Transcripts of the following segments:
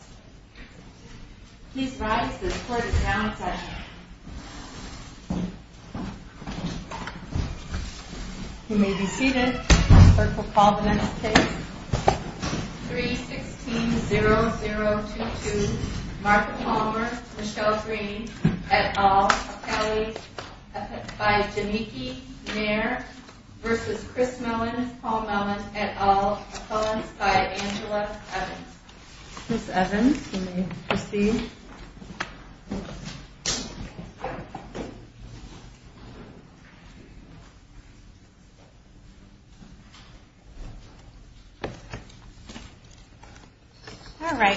v. Chris Mellen, Paul Mellen, et al., opposed by Angela Evans.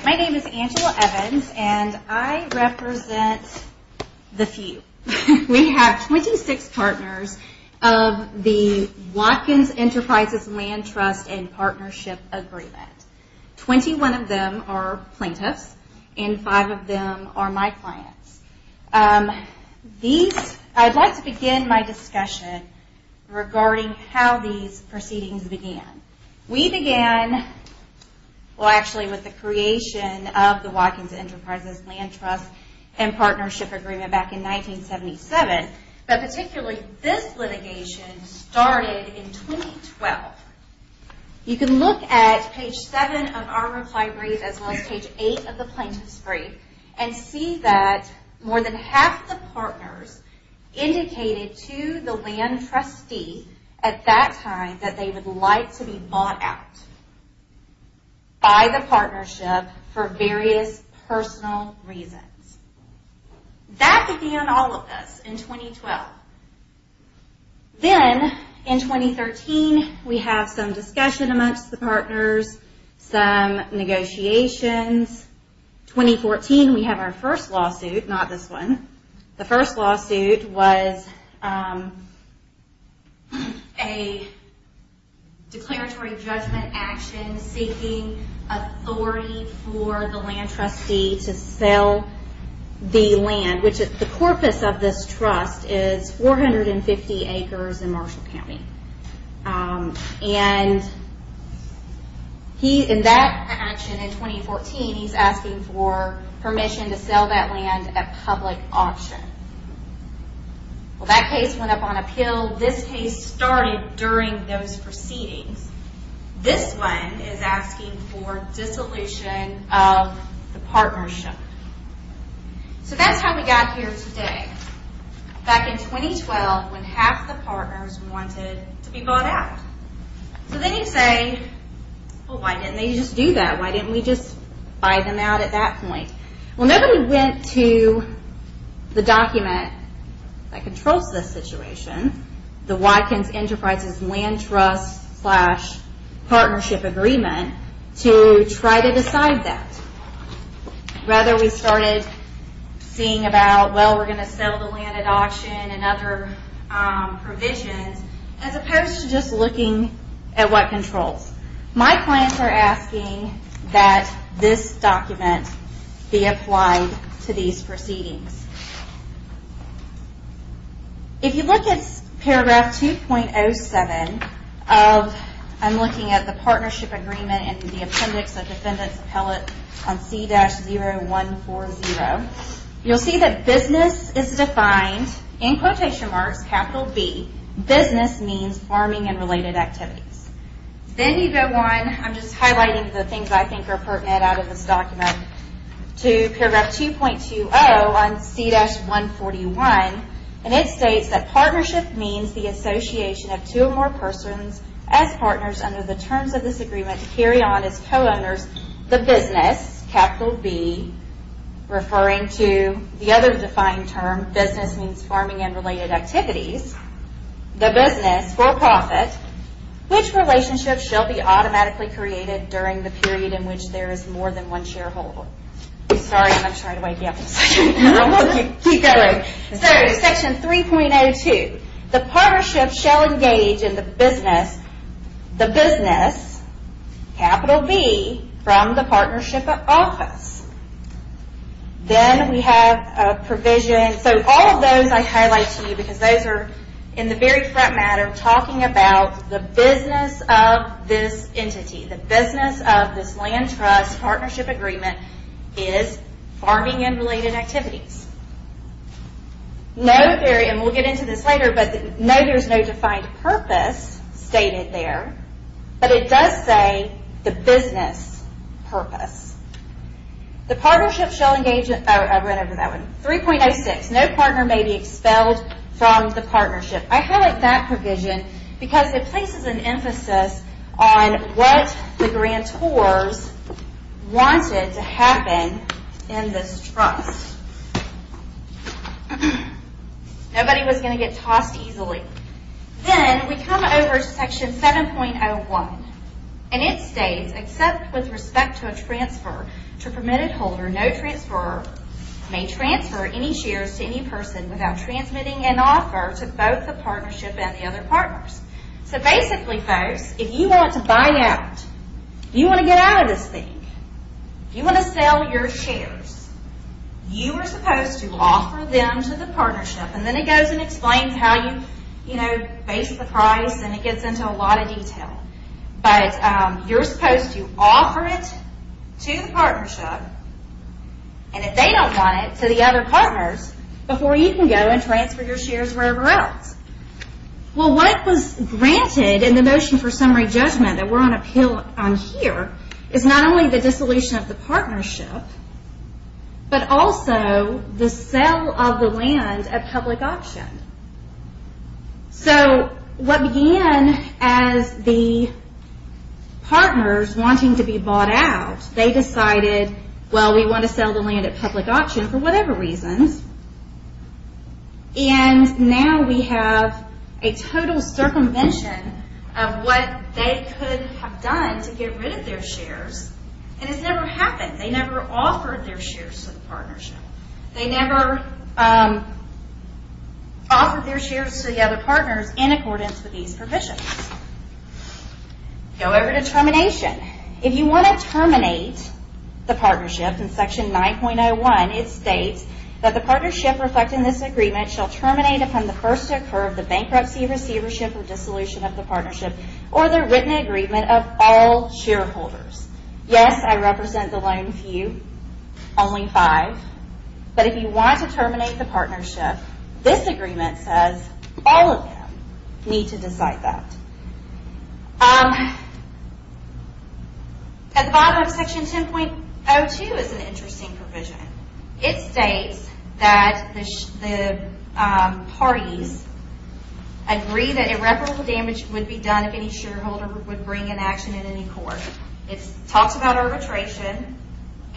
My name is Angela Evans and I represent the few. We have 26 partners of the Watkins Enterprises Land Trust and Partnership Agreement. 21 of them are plaintiffs and 5 of them are my clients. I'd like to begin my discussion regarding how these proceedings began. We began with the creation of the Watkins Enterprises Land Trust and Partnership Agreement back in 1977. But particularly, this litigation started in 2012. You can look at page 7 of our reply brief as well as page 8 of the plaintiff's brief and see that more than half the partners indicated to the land trustee at that time that they would like to be bought out by the partnership for various personal reasons. That began all of this in 2012. Then, in 2013, we have some discussion amongst the partners, some negotiations. In 2014, we have our first lawsuit, not this one. The first lawsuit was a declaratory judgment action seeking authority for the land trustee to sell the land. The corpus of this trust is 450 acres in Marshall County. In that action in 2014, he's asking for permission to sell that land at public auction. That case went up on appeal. This case started during those proceedings. This one is asking for dissolution of the partnership. That's how we got here today, back in 2012, when half the partners wanted to be bought out. Then you say, why didn't they just do that? Why didn't we just buy them out at that point? Nobody went to the document that controls this situation, the Watkins Enterprises Land Trust slash Partnership Agreement, to try to decide that. Rather, we started seeing about, well, we're going to sell the land at auction and other provisions, as opposed to just looking at what controls. My clients are asking that this document be applied to these proceedings. If you look at paragraph 2.07, I'm looking at the Partnership Agreement and the Appendix of Defendant's Appellate on C-0140. You'll see that business is defined in quotation marks, capital B. Business means farming and related activities. Then you go on, I'm just highlighting the things I think are pertinent out of this document, to paragraph 2.20 on C-141. It states that partnership means the association of two or more persons as partners under the terms of this agreement to carry on as co-owners. The business, capital B, referring to the other defined term, business means farming and related activities. The business, for profit, which relationship shall be automatically created during the period in which there is more than one shareholder? Sorry, I'm going to try to wake you up in a second. Section 3.02, the partnership shall engage in the business, capital B, from the partnership office. Then we have a provision. All of those I highlight to you because those are, in the very front matter, talking about the business of this entity. The business of this land trust partnership agreement is farming and related activities. We'll get into this later, but know there's no defined purpose stated there, but it does say the business purpose. The partnership shall engage in, I went over that one, 3.06, no partner may be expelled from the partnership. I highlight that provision because it places an emphasis on what the grantors wanted to happen in this trust. Nobody was going to get tossed easily. Then we come over to section 7.01, and it states, except with respect to a transfer to permitted holder, no transfer may transfer any shares to any person without transmitting an offer to both the partnership and the other partners. Basically, folks, if you want to buy out, you want to get out of this thing, you want to sell your shares, you are supposed to offer them to the partnership. Then it goes and explains how you base the price, and it gets into a lot of detail. You're supposed to offer it to the partnership, and if they don't want it, to the other partners, before you can go and transfer your shares wherever else. What was granted in the motion for summary judgment that we're on appeal on here is not only the dissolution of the partnership, but also the sale of the land at public auction. What began as the partners wanting to be bought out, they decided, well, we want to sell the land at public auction for whatever reasons, and now we have a total circumvention of what they could have done to get rid of their shares, and it's never happened. They never offered their shares to the partnership. They never offered their shares to the other partners in accordance with these provisions. Go over to termination. If you want to terminate the partnership, in section 9.01, it states, that the partnership reflecting this agreement shall terminate upon the first to occur of the bankruptcy, receivership, or dissolution of the partnership, or the written agreement of all shareholders. Yes, I represent the lone few, only five, but if you want to terminate the partnership, this agreement says all of them need to decide that. At the bottom of section 10.02 is an interesting provision. It states that the parties agree that irreparable damage would be done if any shareholder would bring an action in any court. It talks about arbitration,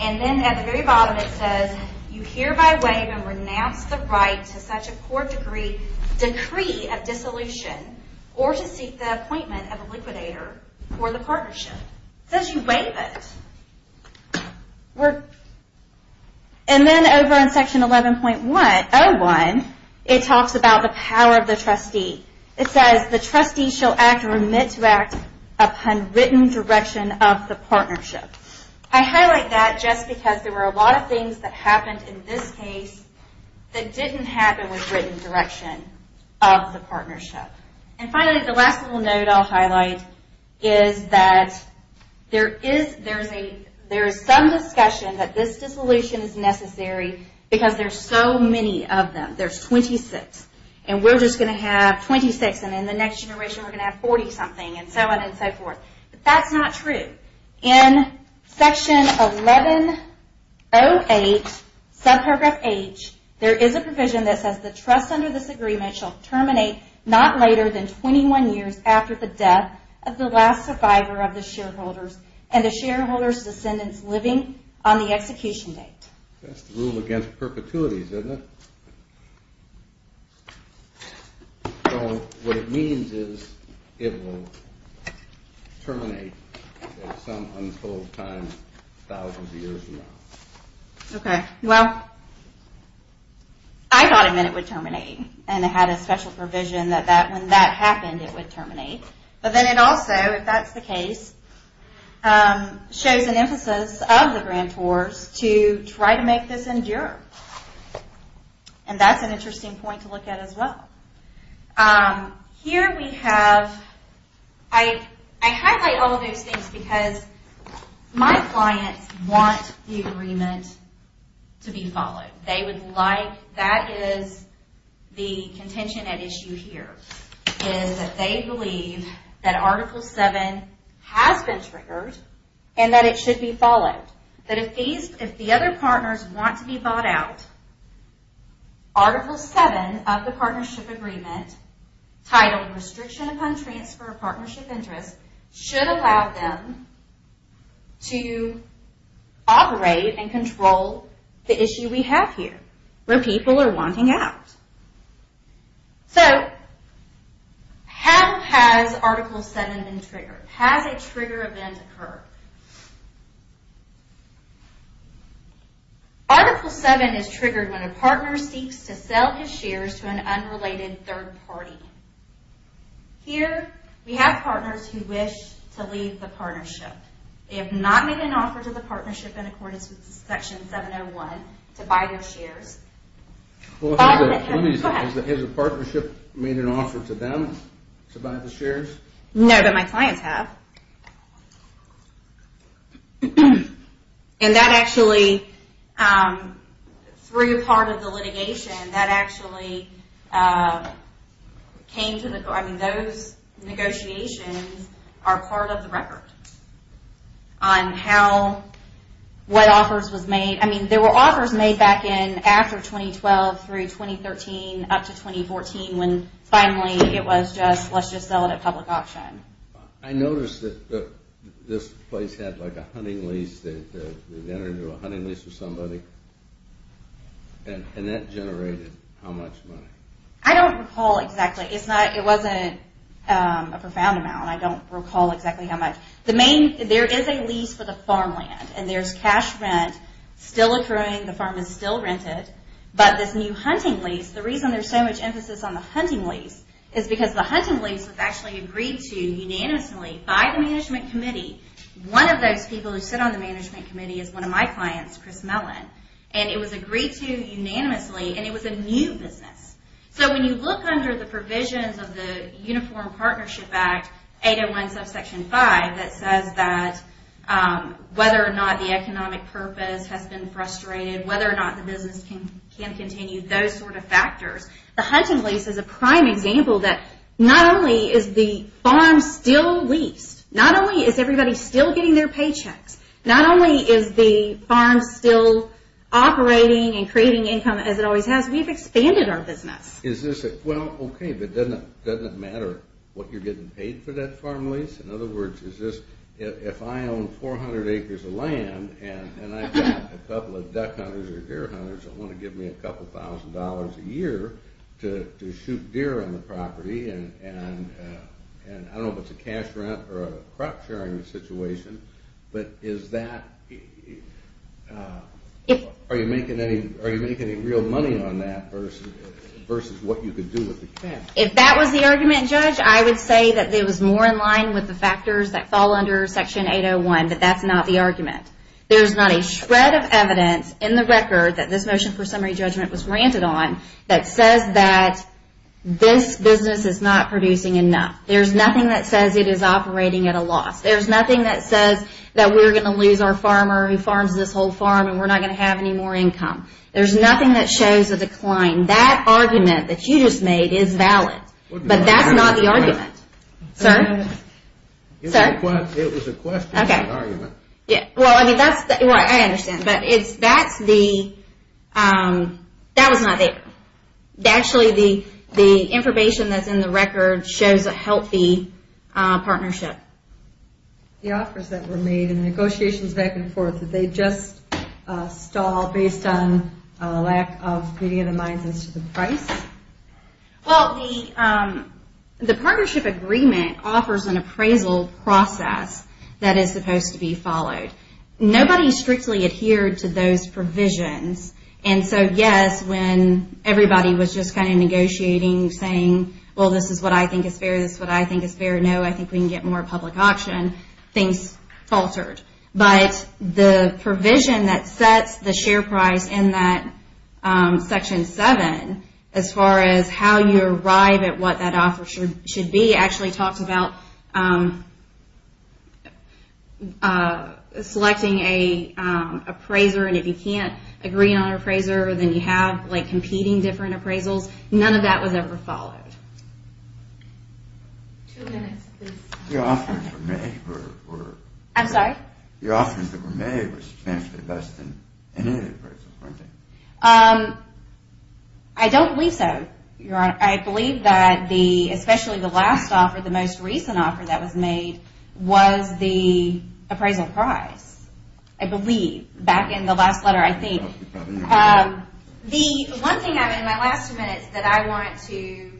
and then at the very bottom it says, you hereby waive and renounce the right to such a court decree of dissolution, or to seek the appointment of a liquidator for the partnership. It says you waive it. And then over in section 11.01, it talks about the power of the trustee. It says, the trustee shall act or admit to act upon written direction of the partnership. I highlight that just because there were a lot of things that happened in this case that didn't happen with written direction of the partnership. And finally, the last little note I'll highlight is that there is some discussion that this dissolution is necessary because there's so many of them. There's 26, and we're just going to have 26, and in the next generation we're going to have 40-something, and so on and so forth. But that's not true. In section 11.08, subparagraph H, there is a provision that says, the trust under this agreement shall terminate not later than 21 years after the death of the last survivor of the shareholders and the shareholders' descendants living on the execution date. That's the rule against perpetuities, isn't it? So what it means is it will terminate at some untold time thousands of years from now. Okay, well, I thought it meant it would terminate, and it had a special provision that when that happened it would terminate. But then it also, if that's the case, shows an emphasis of the grantors to try to make this endure. And that's an interesting point to look at as well. Here we have, I highlight all those things because my clients want the agreement to be followed. They would like, that is the contention at issue here, is that they believe that Article VII has been triggered and that it should be followed. That if the other partners want to be bought out, Article VII of the Partnership Agreement, titled Restriction Upon Transfer of Partnership Interest, should allow them to operate and control the issue we have here, where people are wanting out. So how has Article VII been triggered? Has a trigger event occurred? Article VII is triggered when a partner seeks to sell his shares to an unrelated third party. Here we have partners who wish to leave the partnership. They have not made an offer to the partnership in accordance with Section 701 to buy their shares. Has the partnership made an offer to them to buy the shares? No, but my clients have. And that actually, through part of the litigation, that actually came to the, I mean those negotiations are part of the record. On how, what offers was made. I mean there were offers made back in after 2012 through 2013 up to 2014 when finally it was just, let's just sell it at public auction. I noticed that this place had like a hunting lease. They entered into a hunting lease with somebody. And that generated how much money? I don't recall exactly. It's not, it wasn't a profound amount. I don't recall exactly how much. The main, there is a lease for the farmland. And there's cash rent still accruing. The farm is still rented. But this new hunting lease, the reason there's so much emphasis on the hunting lease is because the hunting lease was actually agreed to unanimously by the management committee. One of those people who sit on the management committee is one of my clients, Chris Mellon. And it was agreed to unanimously and it was a new business. So when you look under the provisions of the Uniform Partnership Act, 801 subsection 5, that says that whether or not the economic purpose has been frustrated, whether or not the business can continue, those sort of factors. The hunting lease is a prime example that not only is the farm still leased, not only is everybody still getting their paychecks, not only is the farm still operating and creating income as it always has, we've expanded our business. Is this a, well, okay, but doesn't it matter what you're getting paid for that farm lease? In other words, is this, if I own 400 acres of land and I've got a couple of duck hunters or deer hunters that want to give me a couple thousand dollars a year to shoot deer on the property and I don't know if it's a cash rent or a crop sharing situation, but is that, are you making any real money on that versus what you could do with the cash? If that was the argument, Judge, I would say that it was more in line with the factors that fall under section 801, but that's not the argument. There's not a shred of evidence in the record that this motion for summary judgment was granted on that says that this business is not producing enough. There's nothing that says it is operating at a loss. There's nothing that says that we're going to lose our farmer who farms this whole farm and we're not going to have any more income. There's nothing that shows a decline. That argument that you just made is valid, but that's not the argument. Sir? It was a question, not an argument. Well, I understand, but that was not there. Actually, the information that's in the record shows a healthy partnership. The offers that were made and negotiations back and forth, did they just stall based on a lack of reading of the minds as to the price? Well, the partnership agreement offers an appraisal process that is supposed to be followed. Nobody strictly adhered to those provisions, and so, yes, when everybody was just kind of negotiating, saying, well, this is what I think is fair, this is what I think is fair, no, I think we can get more public auction, things faltered. But the provision that sets the share price in that Section 7, as far as how you arrive at what that offer should be, actually talks about selecting an appraiser, and if you can't agree on an appraiser, then you have competing different appraisals. None of that was ever followed. Two minutes, please. The offers that were made were substantially less than any of the appraisals, weren't they? I don't believe so, Your Honor. I believe that especially the last offer, the most recent offer that was made, was the appraisal price, I believe, back in the last letter, I think. The one thing, in my last two minutes, that I wanted to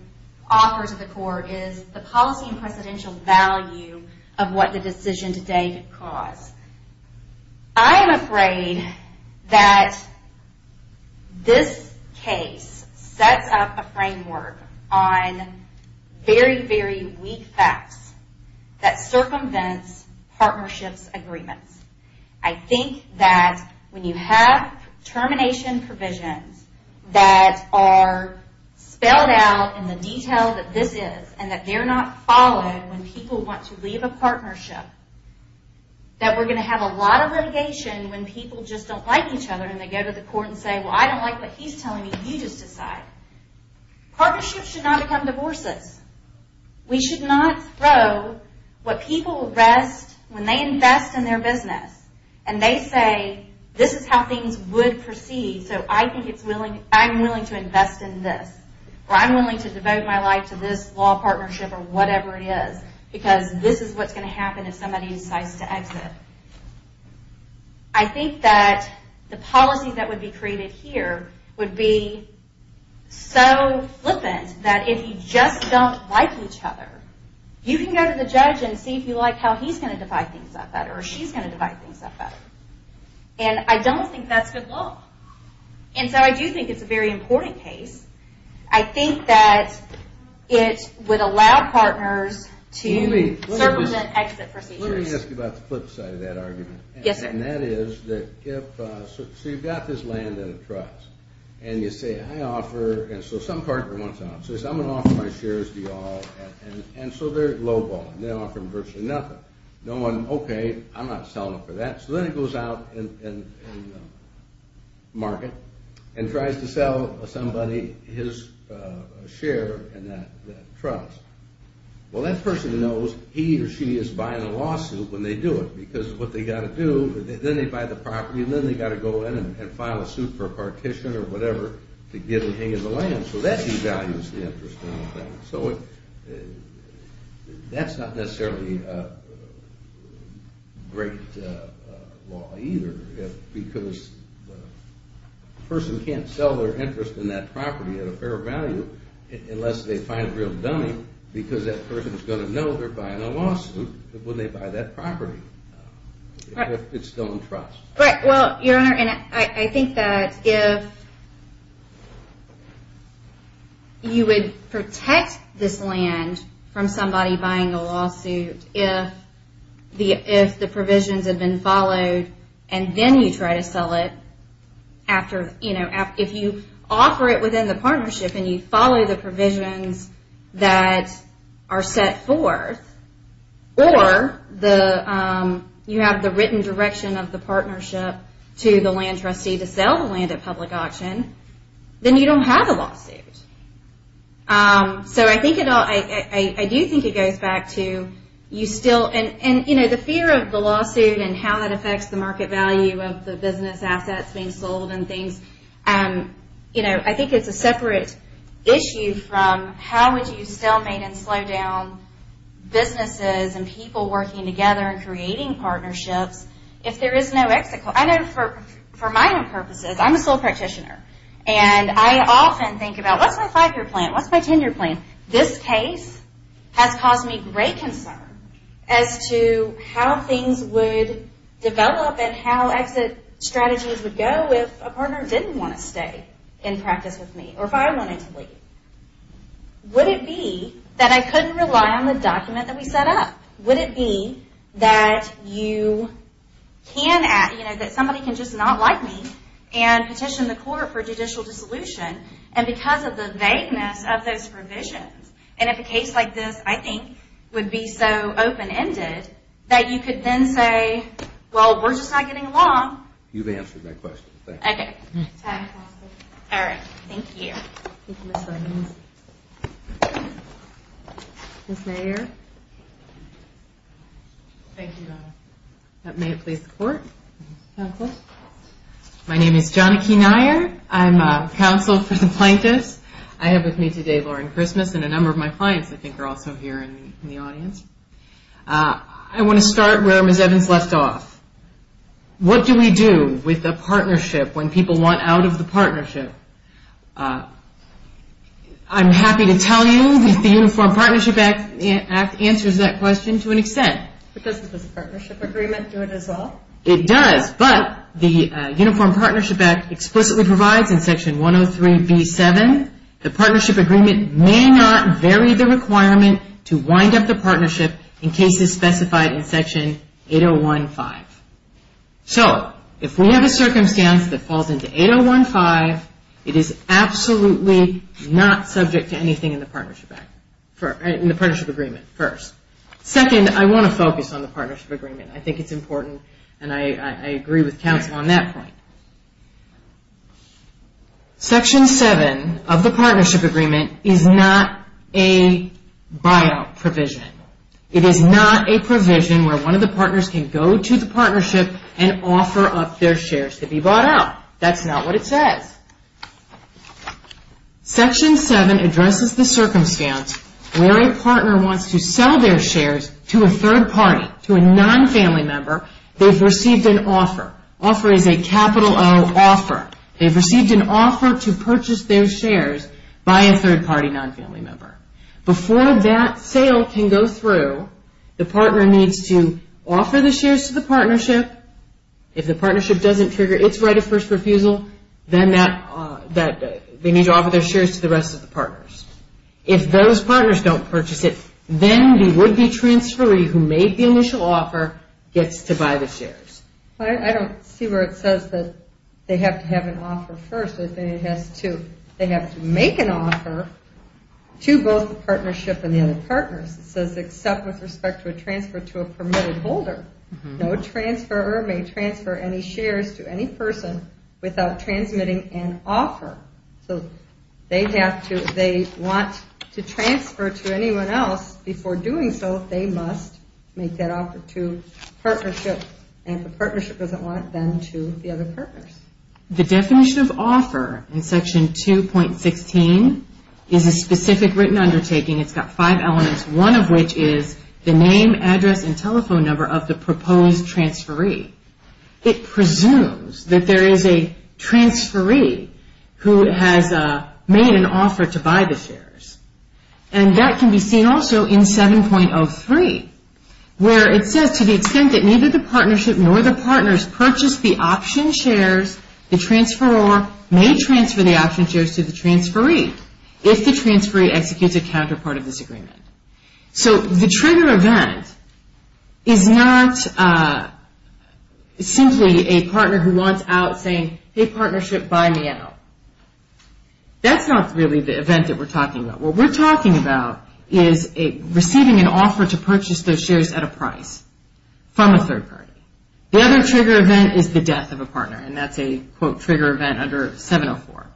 offer to the Court is the policy and presidential value of what the decision today could cause. I am afraid that this case sets up a framework on very, very weak facts that circumvents partnerships agreements. I think that when you have termination provisions that are spelled out in the detail that this is, and that they're not followed when people want to leave a partnership, that we're going to have a lot of litigation when people just don't like each other and they go to the Court and say, well, I don't like what he's telling me, you just decide. Partnerships should not become divorces. We should not throw what people rest when they invest in their business, and they say, this is how things would proceed, so I'm willing to invest in this, or I'm willing to devote my life to this law partnership or whatever it is, because this is what's going to happen if somebody decides to exit. I think that the policy that would be created here would be so flippant that if you just don't like each other, you can go to the judge and see if you like how he's going to divide things up better, or she's going to divide things up better. And I don't think that's good law. And so I do think it's a very important case. I think that it would allow partners to circumvent exit procedures. Let me ask you about the flip side of that argument. Yes, sir. And that is that if, so you've got this land at a trust, and you say, I offer, and so some partner wants to offer, says, I'm going to offer my shares to you all, and so they're lowballing, they're offering virtually nothing. No one, okay, I'm not selling them for that, so then it goes out in the market and tries to sell somebody his share in that trust. Well, that person knows he or she is buying a lawsuit when they do it because what they've got to do, then they buy the property, and then they've got to go in and file a suit for a partition or whatever to get a hang of the land. So that devalues the interest in the thing. So that's not necessarily a great law either because the person can't sell their interest in that property at a fair value unless they find a real dummy, because that person is going to know they're buying a lawsuit when they buy that property if it's still in trust. Right, well, Your Honor, and I think that if you would protect this land from somebody buying a lawsuit if the provisions had been followed and then you try to sell it after, you know, if you offer it within the partnership and you follow the provisions that are set forth or you have the written direction of the partnership to the land trustee to sell the land at public auction, then you don't have a lawsuit. So I do think it goes back to you still, and, you know, the fear of the lawsuit and how that affects the market value of the business assets being sold and things, you know, I think it's a separate issue from how would you stalemate and slow down businesses and people working together and creating partnerships if there is no exit? I know for my own purposes, I'm a sole practitioner, and I often think about what's my five-year plan, what's my ten-year plan? This case has caused me great concern as to how things would develop and how exit strategies would go if a partner didn't want to stay in practice with me or if I wanted to leave. Would it be that I couldn't rely on the document that we set up? Would it be that somebody can just not like me and petition the court for judicial dissolution and because of the vagueness of those provisions and if a case like this, I think, would be so open-ended that you could then say, well, we're just not getting along. You've answered my question. Okay. Thank you. Thank you, Ms. Williams. Ms. Nair? Thank you, Donna. May it please the court. Counsel. My name is Johnna K. Nair. I'm a counsel for the plaintiffs. I have with me today Lauren Christmas and a number of my clients, I think, are also here in the audience. I want to start where Ms. Evans left off. What do we do with a partnership when people want out of the partnership? I'm happy to tell you that the Uniform Partnership Act answers that question to an extent. Does the partnership agreement do it as well? It does, but the Uniform Partnership Act explicitly provides in Section 103B7 the partnership agreement may not vary the requirement to wind up the partnership in cases specified in Section 8015. So if we have a circumstance that falls into 8015, it is absolutely not subject to anything in the partnership agreement, first. Second, I want to focus on the partnership agreement. I think it's important and I agree with counsel on that point. Section 7 of the partnership agreement is not a buyout provision. It is not a provision where one of the partners can go to the partnership and offer up their shares to be bought out. That's not what it says. Section 7 addresses the circumstance where a partner wants to sell their shares to a third party, to a non-family member, they've received an offer. Offer is a capital O, offer. They've received an offer to purchase their shares by a third party non-family member. Before that sale can go through, the partner needs to offer the shares to the partnership. If the partnership doesn't trigger its right of first refusal, then they need to offer their shares to the rest of the partners. If those partners don't purchase it, then the would-be transferee who made the initial offer gets to buy the shares. I don't see where it says that they have to have an offer first. They have to make an offer to both the partnership and the other partners. It says except with respect to a transfer to a permitted holder. No transfer or may transfer any shares to any person without transmitting an offer. So they want to transfer to anyone else. Before doing so, they must make that offer to partnership, and if the partnership doesn't want it, then to the other partners. The definition of offer in Section 2.16 is a specific written undertaking. It's got five elements, one of which is the name, address, and telephone number of the proposed transferee. It presumes that there is a transferee who has made an offer to buy the shares, and that can be seen also in 7.03, where it says to the extent that neither the partnership nor the partners purchased the option shares, the transferor may transfer the option shares to the transferee if the transferee executes a counterpart of this agreement. So the trigger event is not simply a partner who wants out saying, Hey, partnership, buy me out. That's not really the event that we're talking about. What we're talking about is receiving an offer to purchase those shares at a price from a third party. The other trigger event is the death of a partner, and that's a, quote, trigger event under 7.04.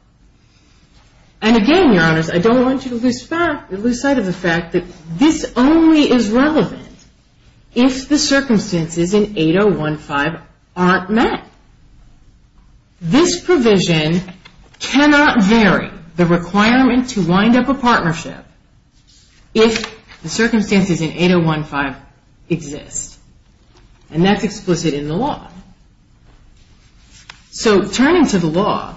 And again, Your Honors, I don't want you to lose sight of the fact that this only is relevant if the circumstances in 8.015 aren't met. This provision cannot vary the requirement to wind up a partnership if the circumstances in 8.015 exist, and that's explicit in the law. So turning to the law,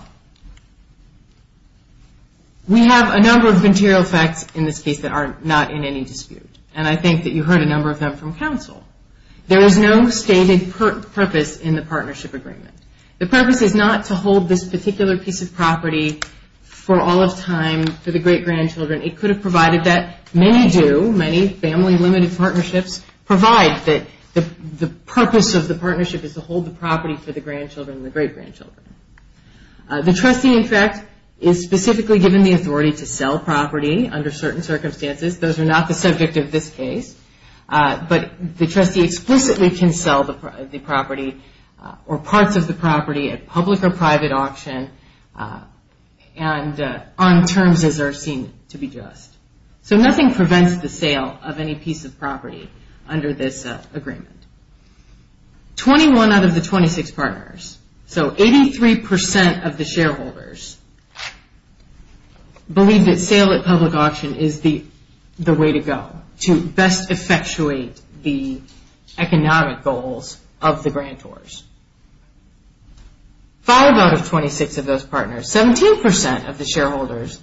we have a number of material facts in this case that are not in any dispute, and I think that you heard a number of them from counsel. There is no stated purpose in the partnership agreement. The purpose is not to hold this particular piece of property for all of time for the great-grandchildren. It could have provided that. Many do. Many family-limited partnerships provide that the purpose of the partnership is to hold the property for the grandchildren and the great-grandchildren. The trustee, in fact, is specifically given the authority to sell property under certain circumstances. Those are not the subject of this case. But the trustee explicitly can sell the property or parts of the property at public or private auction and on terms as are seen to be just. So nothing prevents the sale of any piece of property under this agreement. Twenty-one out of the 26 partners, so 83% of the shareholders, believe that sale at public auction is the way to go to best effectuate the economic goals of the grantors. Five out of 26 of those partners, 17% of the shareholders,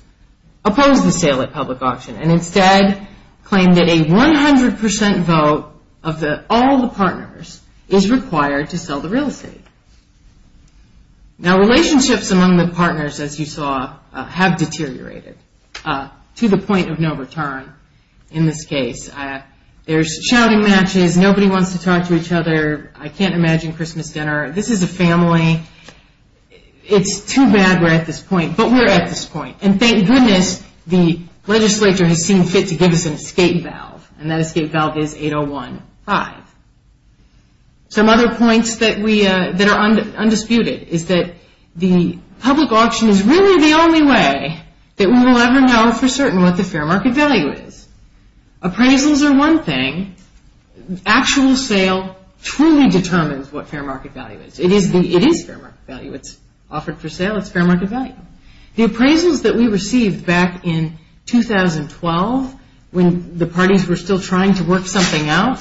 oppose the sale at public auction and instead claim that a 100% vote of all the partners is required to sell the real estate. Now, relationships among the partners, as you saw, have deteriorated to the point of no return in this case. There's shouting matches. Nobody wants to talk to each other. I can't imagine Christmas dinner. This is a family. It's too bad we're at this point, but we're at this point. And thank goodness the legislature has seen fit to give us an escape valve, and that escape valve is 8015. Some other points that are undisputed is that the public auction is really the only way that we will ever know for certain what the fair market value is. Appraisals are one thing. Actual sale truly determines what fair market value is. It is fair market value. It's offered for sale. It's fair market value. The appraisals that we received back in 2012 when the parties were still trying to work something out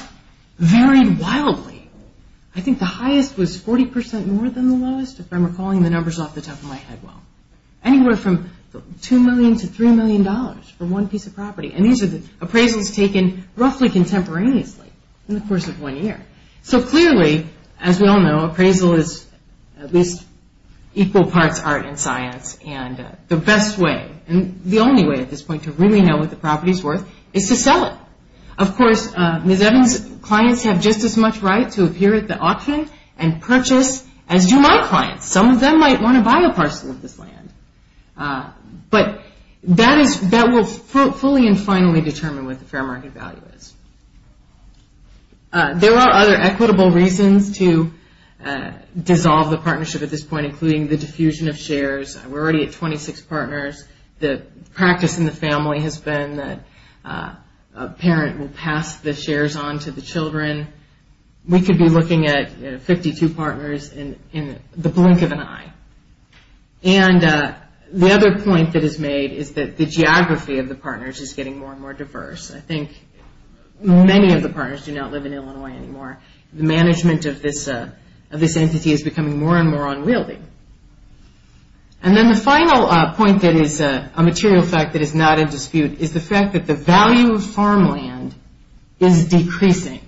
varied wildly. I think the highest was 40% more than the lowest, if I'm recalling the numbers off the top of my head well. Anywhere from $2 million to $3 million for one piece of property, and these are the appraisals taken roughly contemporaneously in the course of one year. So clearly, as we all know, appraisal is at least equal parts art and science, and the best way, and the only way at this point to really know what the property is worth is to sell it. Of course, Ms. Evans' clients have just as much right to appear at the auction and purchase as do my clients. Some of them might want to buy a parcel of this land, but that will fully and finally determine what the fair market value is. There are other equitable reasons to dissolve the partnership at this point, including the diffusion of shares. We're already at 26 partners. The practice in the family has been that a parent will pass the shares on to the children. We could be looking at 52 partners in the blink of an eye. The other point that is made is that the geography of the partners is getting more and more diverse. I think many of the partners do not live in Illinois anymore. The management of this entity is becoming more and more unwieldy. And then the final point that is a material fact that is not in dispute is the fact that the value of farmland is decreasing.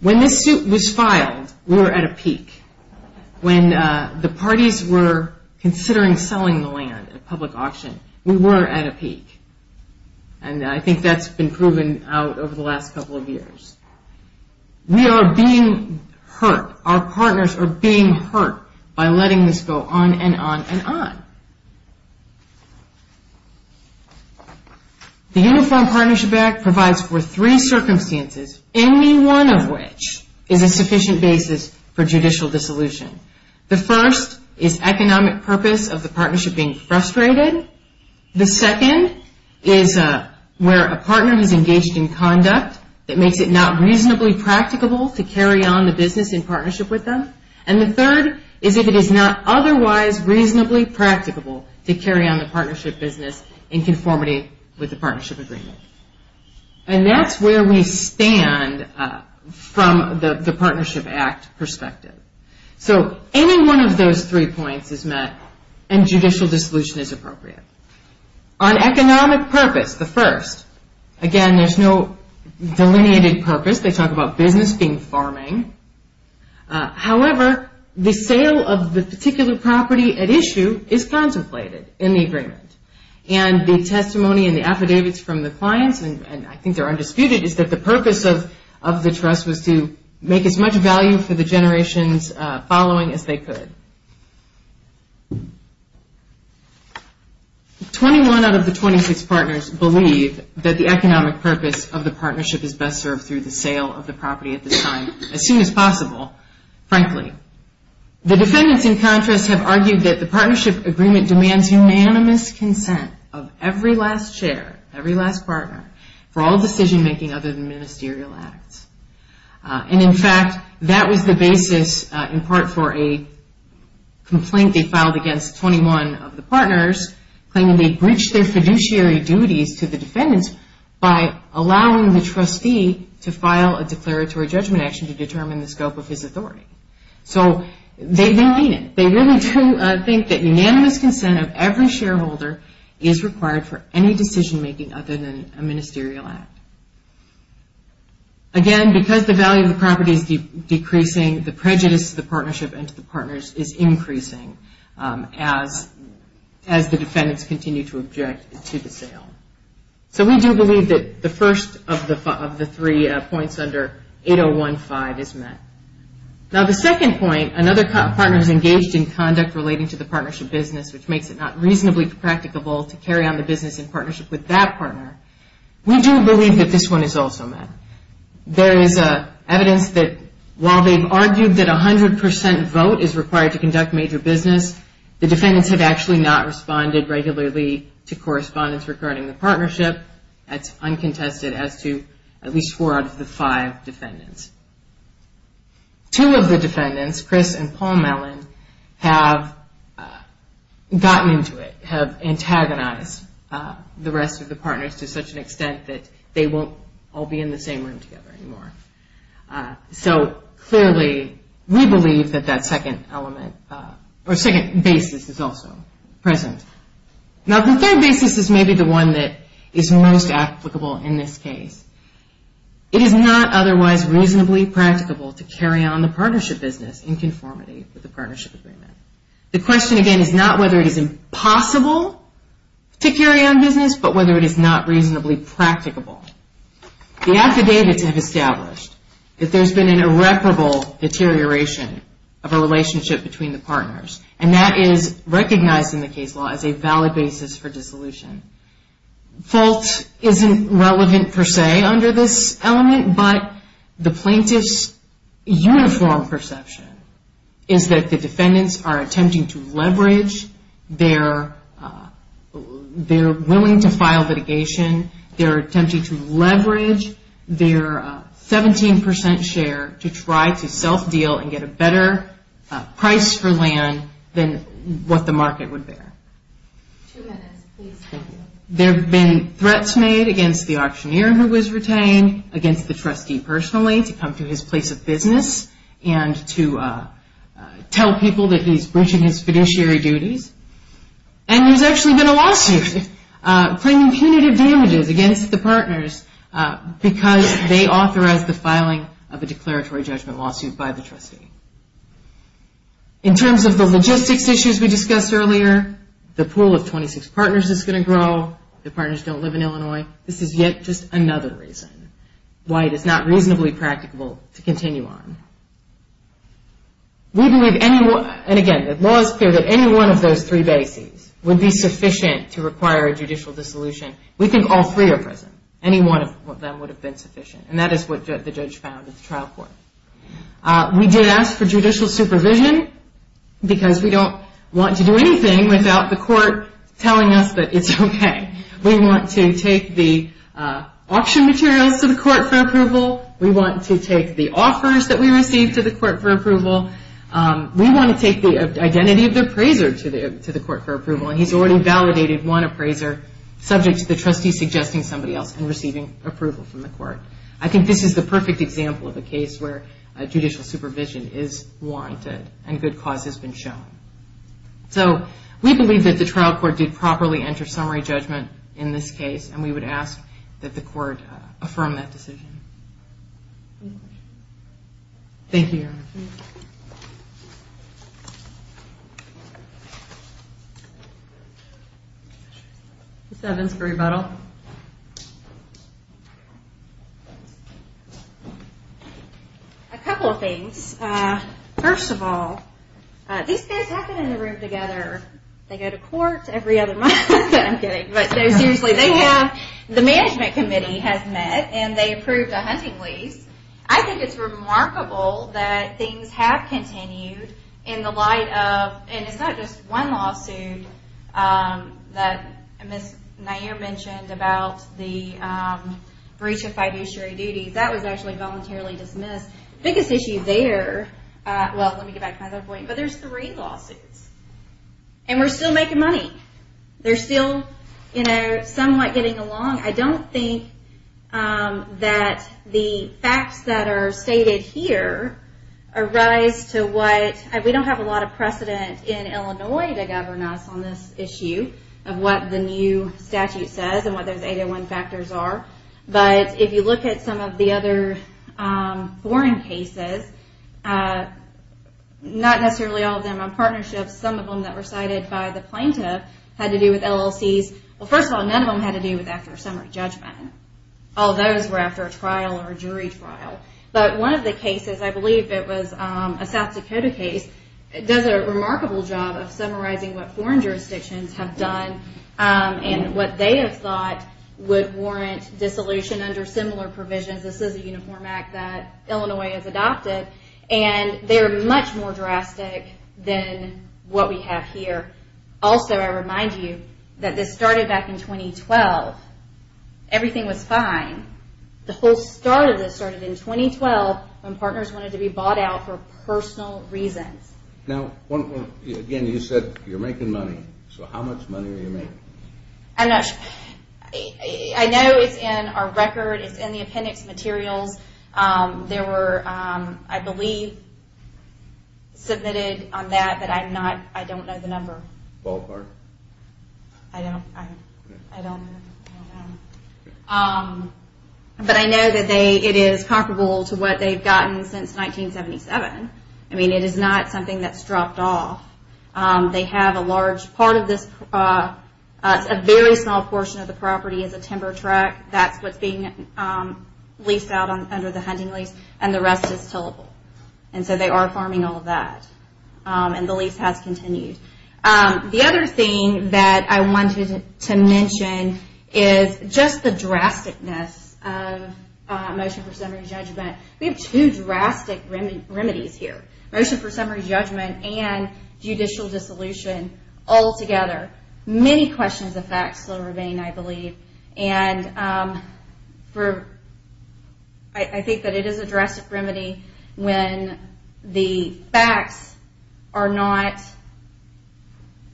When this suit was filed, we were at a peak. When the parties were considering selling the land at a public auction, we were at a peak, and I think that's been proven out over the last couple of years. We are being hurt. Our partners are being hurt by letting this go on and on and on. The Uniform Partnership Act provides for three circumstances, any one of which is a sufficient basis for judicial dissolution. The first is economic purpose of the partnership being frustrated. The second is where a partner is engaged in conduct that makes it not reasonably practicable to carry on the business in partnership with them. And the third is if it is not otherwise reasonably practicable to carry on the partnership business in conformity with the partnership agreement. And that's where we stand from the Partnership Act perspective. So any one of those three points is met and judicial dissolution is appropriate. On economic purpose, the first, again, there's no delineated purpose. They talk about business being farming. However, the sale of the particular property at issue is contemplated in the agreement. And the testimony and the affidavits from the clients, and I think they're undisputed, is that the purpose of the trust was to make as much value for the generation's following as they could. Twenty-one out of the 26 partners believe that the economic purpose of the partnership is best served through the sale of the property at this time, as soon as possible, frankly. The defendants, in contrast, have argued that the partnership agreement demands unanimous consent of every last share, every last partner, for all decision-making other than ministerial acts. And in fact, that was the basis in part for a complaint they filed against 21 of the partners, claiming they breached their fiduciary duties to the defendants by allowing the trustee to file a declaratory judgment action to determine the scope of his authority. So, they mean it, they really do think that unanimous consent of every shareholder is required for any decision-making other than a ministerial act. Again, because the value of the property is decreasing, the prejudice to the partnership and to the partners is increasing as the defendants continue to object to the sale. So, we do believe that the first of the three points under 8015 is met. Now, the second point, another partner is engaged in conduct relating to the partnership business, which makes it not reasonably practicable to carry on the business in partnership with that partner. We do believe that this one is also met. There is evidence that while they've argued that 100 percent vote is required to conduct major business, the defendants have actually not responded regularly to correspondence regarding the partnership. That's uncontested as to at least four out of the five defendants. Two of the defendants, Chris and Paul Mellon, have gotten into it, have antagonized the rest of the partners to such an extent that they won't all be in the same room together anymore. So, clearly, we believe that that second element or second basis is also present. Now, the third basis is maybe the one that is most applicable in this case. It is not otherwise reasonably practicable to carry on the partnership business in conformity with the partnership agreement. The question, again, is not whether it is impossible to carry on business, but whether it is not reasonably practicable. The affidavits have established that there's been an irreparable deterioration of a relationship between the partners, and that is recognized in the case law as a valid basis for dissolution. Fault isn't relevant per se under this element, but the plaintiff's uniform perception is that the defendants are attempting to leverage their willing to file litigation, they're attempting to leverage their 17 percent share to try to self-deal and get a better price for land than what the market would bear. There have been threats made against the auctioneer who was retained, against the trustee personally, to come to his place of business and to tell people that he's breaching his fiduciary duties. And there's actually been a lawsuit claiming punitive damages against the partners because they authorized the filing of a declaratory judgment lawsuit by the trustee. In terms of the logistics issues we discussed earlier, the pool of 26 partners is going to grow. The partners don't live in Illinois. This is yet just another reason why it is not reasonably practicable to continue on. And again, the law is clear that any one of those three bases would be sufficient to require a judicial dissolution. We think all three are present. Any one of them would have been sufficient, and that is what the judge found at the trial court. We did ask for judicial supervision because we don't want to do anything without the court telling us that it's okay. We want to take the auction materials to the court for approval. We want to take the offers that we receive to the court for approval. We want to take the identity of the appraiser to the court for approval, and he's already validated one appraiser subject to the trustee suggesting somebody else and receiving approval from the court. I think this is the perfect example of a case where judicial supervision is warranted and good cause has been shown. So we believe that the trial court did properly enter summary judgment in this case, and we would ask that the court affirm that decision. Thank you, Your Honor. Ms. Evans for rebuttal. A couple of things. First of all, these guys happen in the room together. They go to court every other month. The management committee has met, and they approved a hunting lease. I think it's remarkable that things have continued in the light of, and it's not just one lawsuit that Ms. Nair mentioned about the breach of fiduciary duties. That was actually voluntarily dismissed. The biggest issue there, well let me get back to my other point, but there's three lawsuits, and we're still making money. They're still somewhat getting along. I don't think that the facts that are stated here arise to what, we don't have a lot of precedent in Illinois to govern us on this issue of what the new statute says and what those 801 factors are, but if you look at some of the other foreign cases, not necessarily all of them are partnerships. Some of them that were cited by the plaintiff had to do with LLCs. Well, first of all, none of them had to do with after summary judgment. All those were after a trial or jury trial, but one of the cases, I believe it was a South Dakota case, does a remarkable job of summarizing what foreign jurisdictions have done and what they have thought would warrant dissolution under similar provisions. This is a uniform act that Illinois has adopted, and they're much more drastic than what we have here. Also, I remind you that this started back in 2012. Everything was fine. The whole start of this started in 2012 when partners wanted to be bought out for personal reasons. Now, again, you said you're making money. So how much money are you making? I know it's in our record. It's in the appendix materials. There were, I believe, submitted on that, but I don't know the number. I don't know. But I know that it is comparable to what they've gotten since 1977. I mean, it is not something that's dropped off. A very small portion of the property is a timber track. That's what's being leased out under the hunting lease, and the rest is tillable. So they are farming all of that, and the lease has continued. The other thing that I wanted to mention is just the drasticness of motion for summary judgment. We have two drastic remedies here. Motion for summary judgment and judicial dissolution altogether. Many questions of facts still remain, I believe. I think that it is a drastic remedy when the facts are not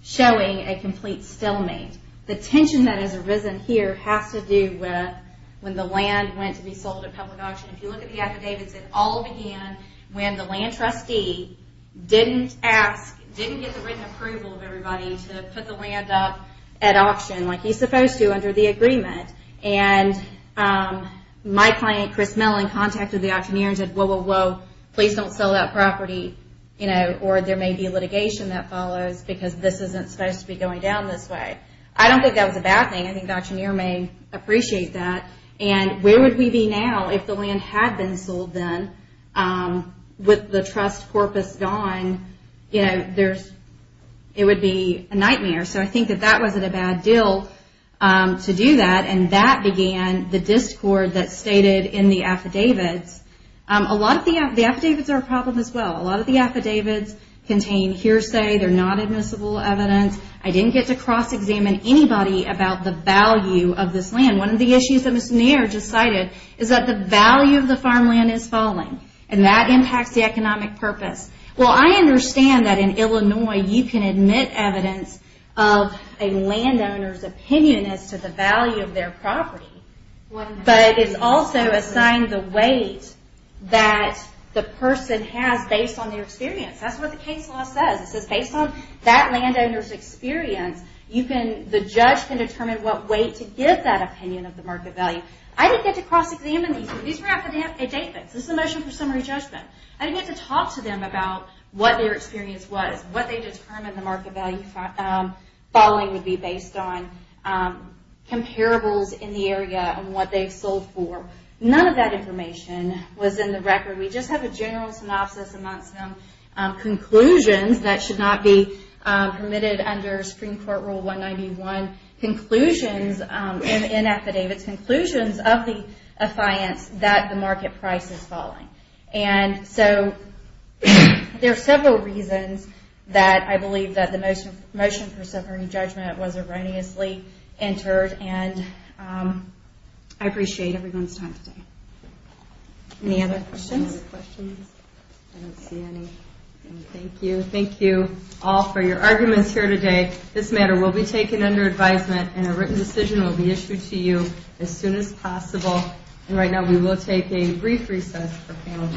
showing a complete stalemate. The tension that has arisen here has to do with when the land went to be sold at public auction. If you look at the affidavits, it all began when the land trustee didn't ask, it wasn't written approval of everybody to put the land up at auction like he's supposed to under the agreement. My client, Chris Mellon, contacted the auctioneer and said, please don't sell that property, or there may be litigation that follows because this isn't supposed to be going down this way. I don't think that was a bad thing. I think the auctioneer may appreciate that. Where would we be now if the land had been sold then with the trust corpus gone? It would be a nightmare. I think that that wasn't a bad deal to do that. That began the discord that's stated in the affidavits. The affidavits are a problem as well. A lot of the affidavits contain hearsay. They're not admissible evidence. I didn't get to cross-examine anybody about the value of this land. One of the issues that Ms. Nair just cited is that the value of the farmland is falling. That impacts the economic purpose. I understand that in Illinois you can admit evidence of a landowner's opinion as to the value of their property, but it's also assigned the weight that the person has based on their experience. That's what the case law says. It says based on that opinion of the market value. I didn't get to cross-examine these affidavits. This is a motion for summary judgment. I didn't get to talk to them about what their experience was, what they determined the market value falling would be based on, comparables in the area, and what they sold for. None of that information was in the record. We just have a general synopsis amongst them, conclusions that should not be affidavits. Conclusions of the affiance that the market price is falling. There are several reasons that I believe that the motion for summary judgment was erroneously entered. I appreciate everyone's time today. Any other questions? I don't see any. Thank you. Thank you all for your arguments here today. This matter will be taken under advisement and a written decision will be issued to you as soon as possible. Right now we will take a brief recess for panel discussion.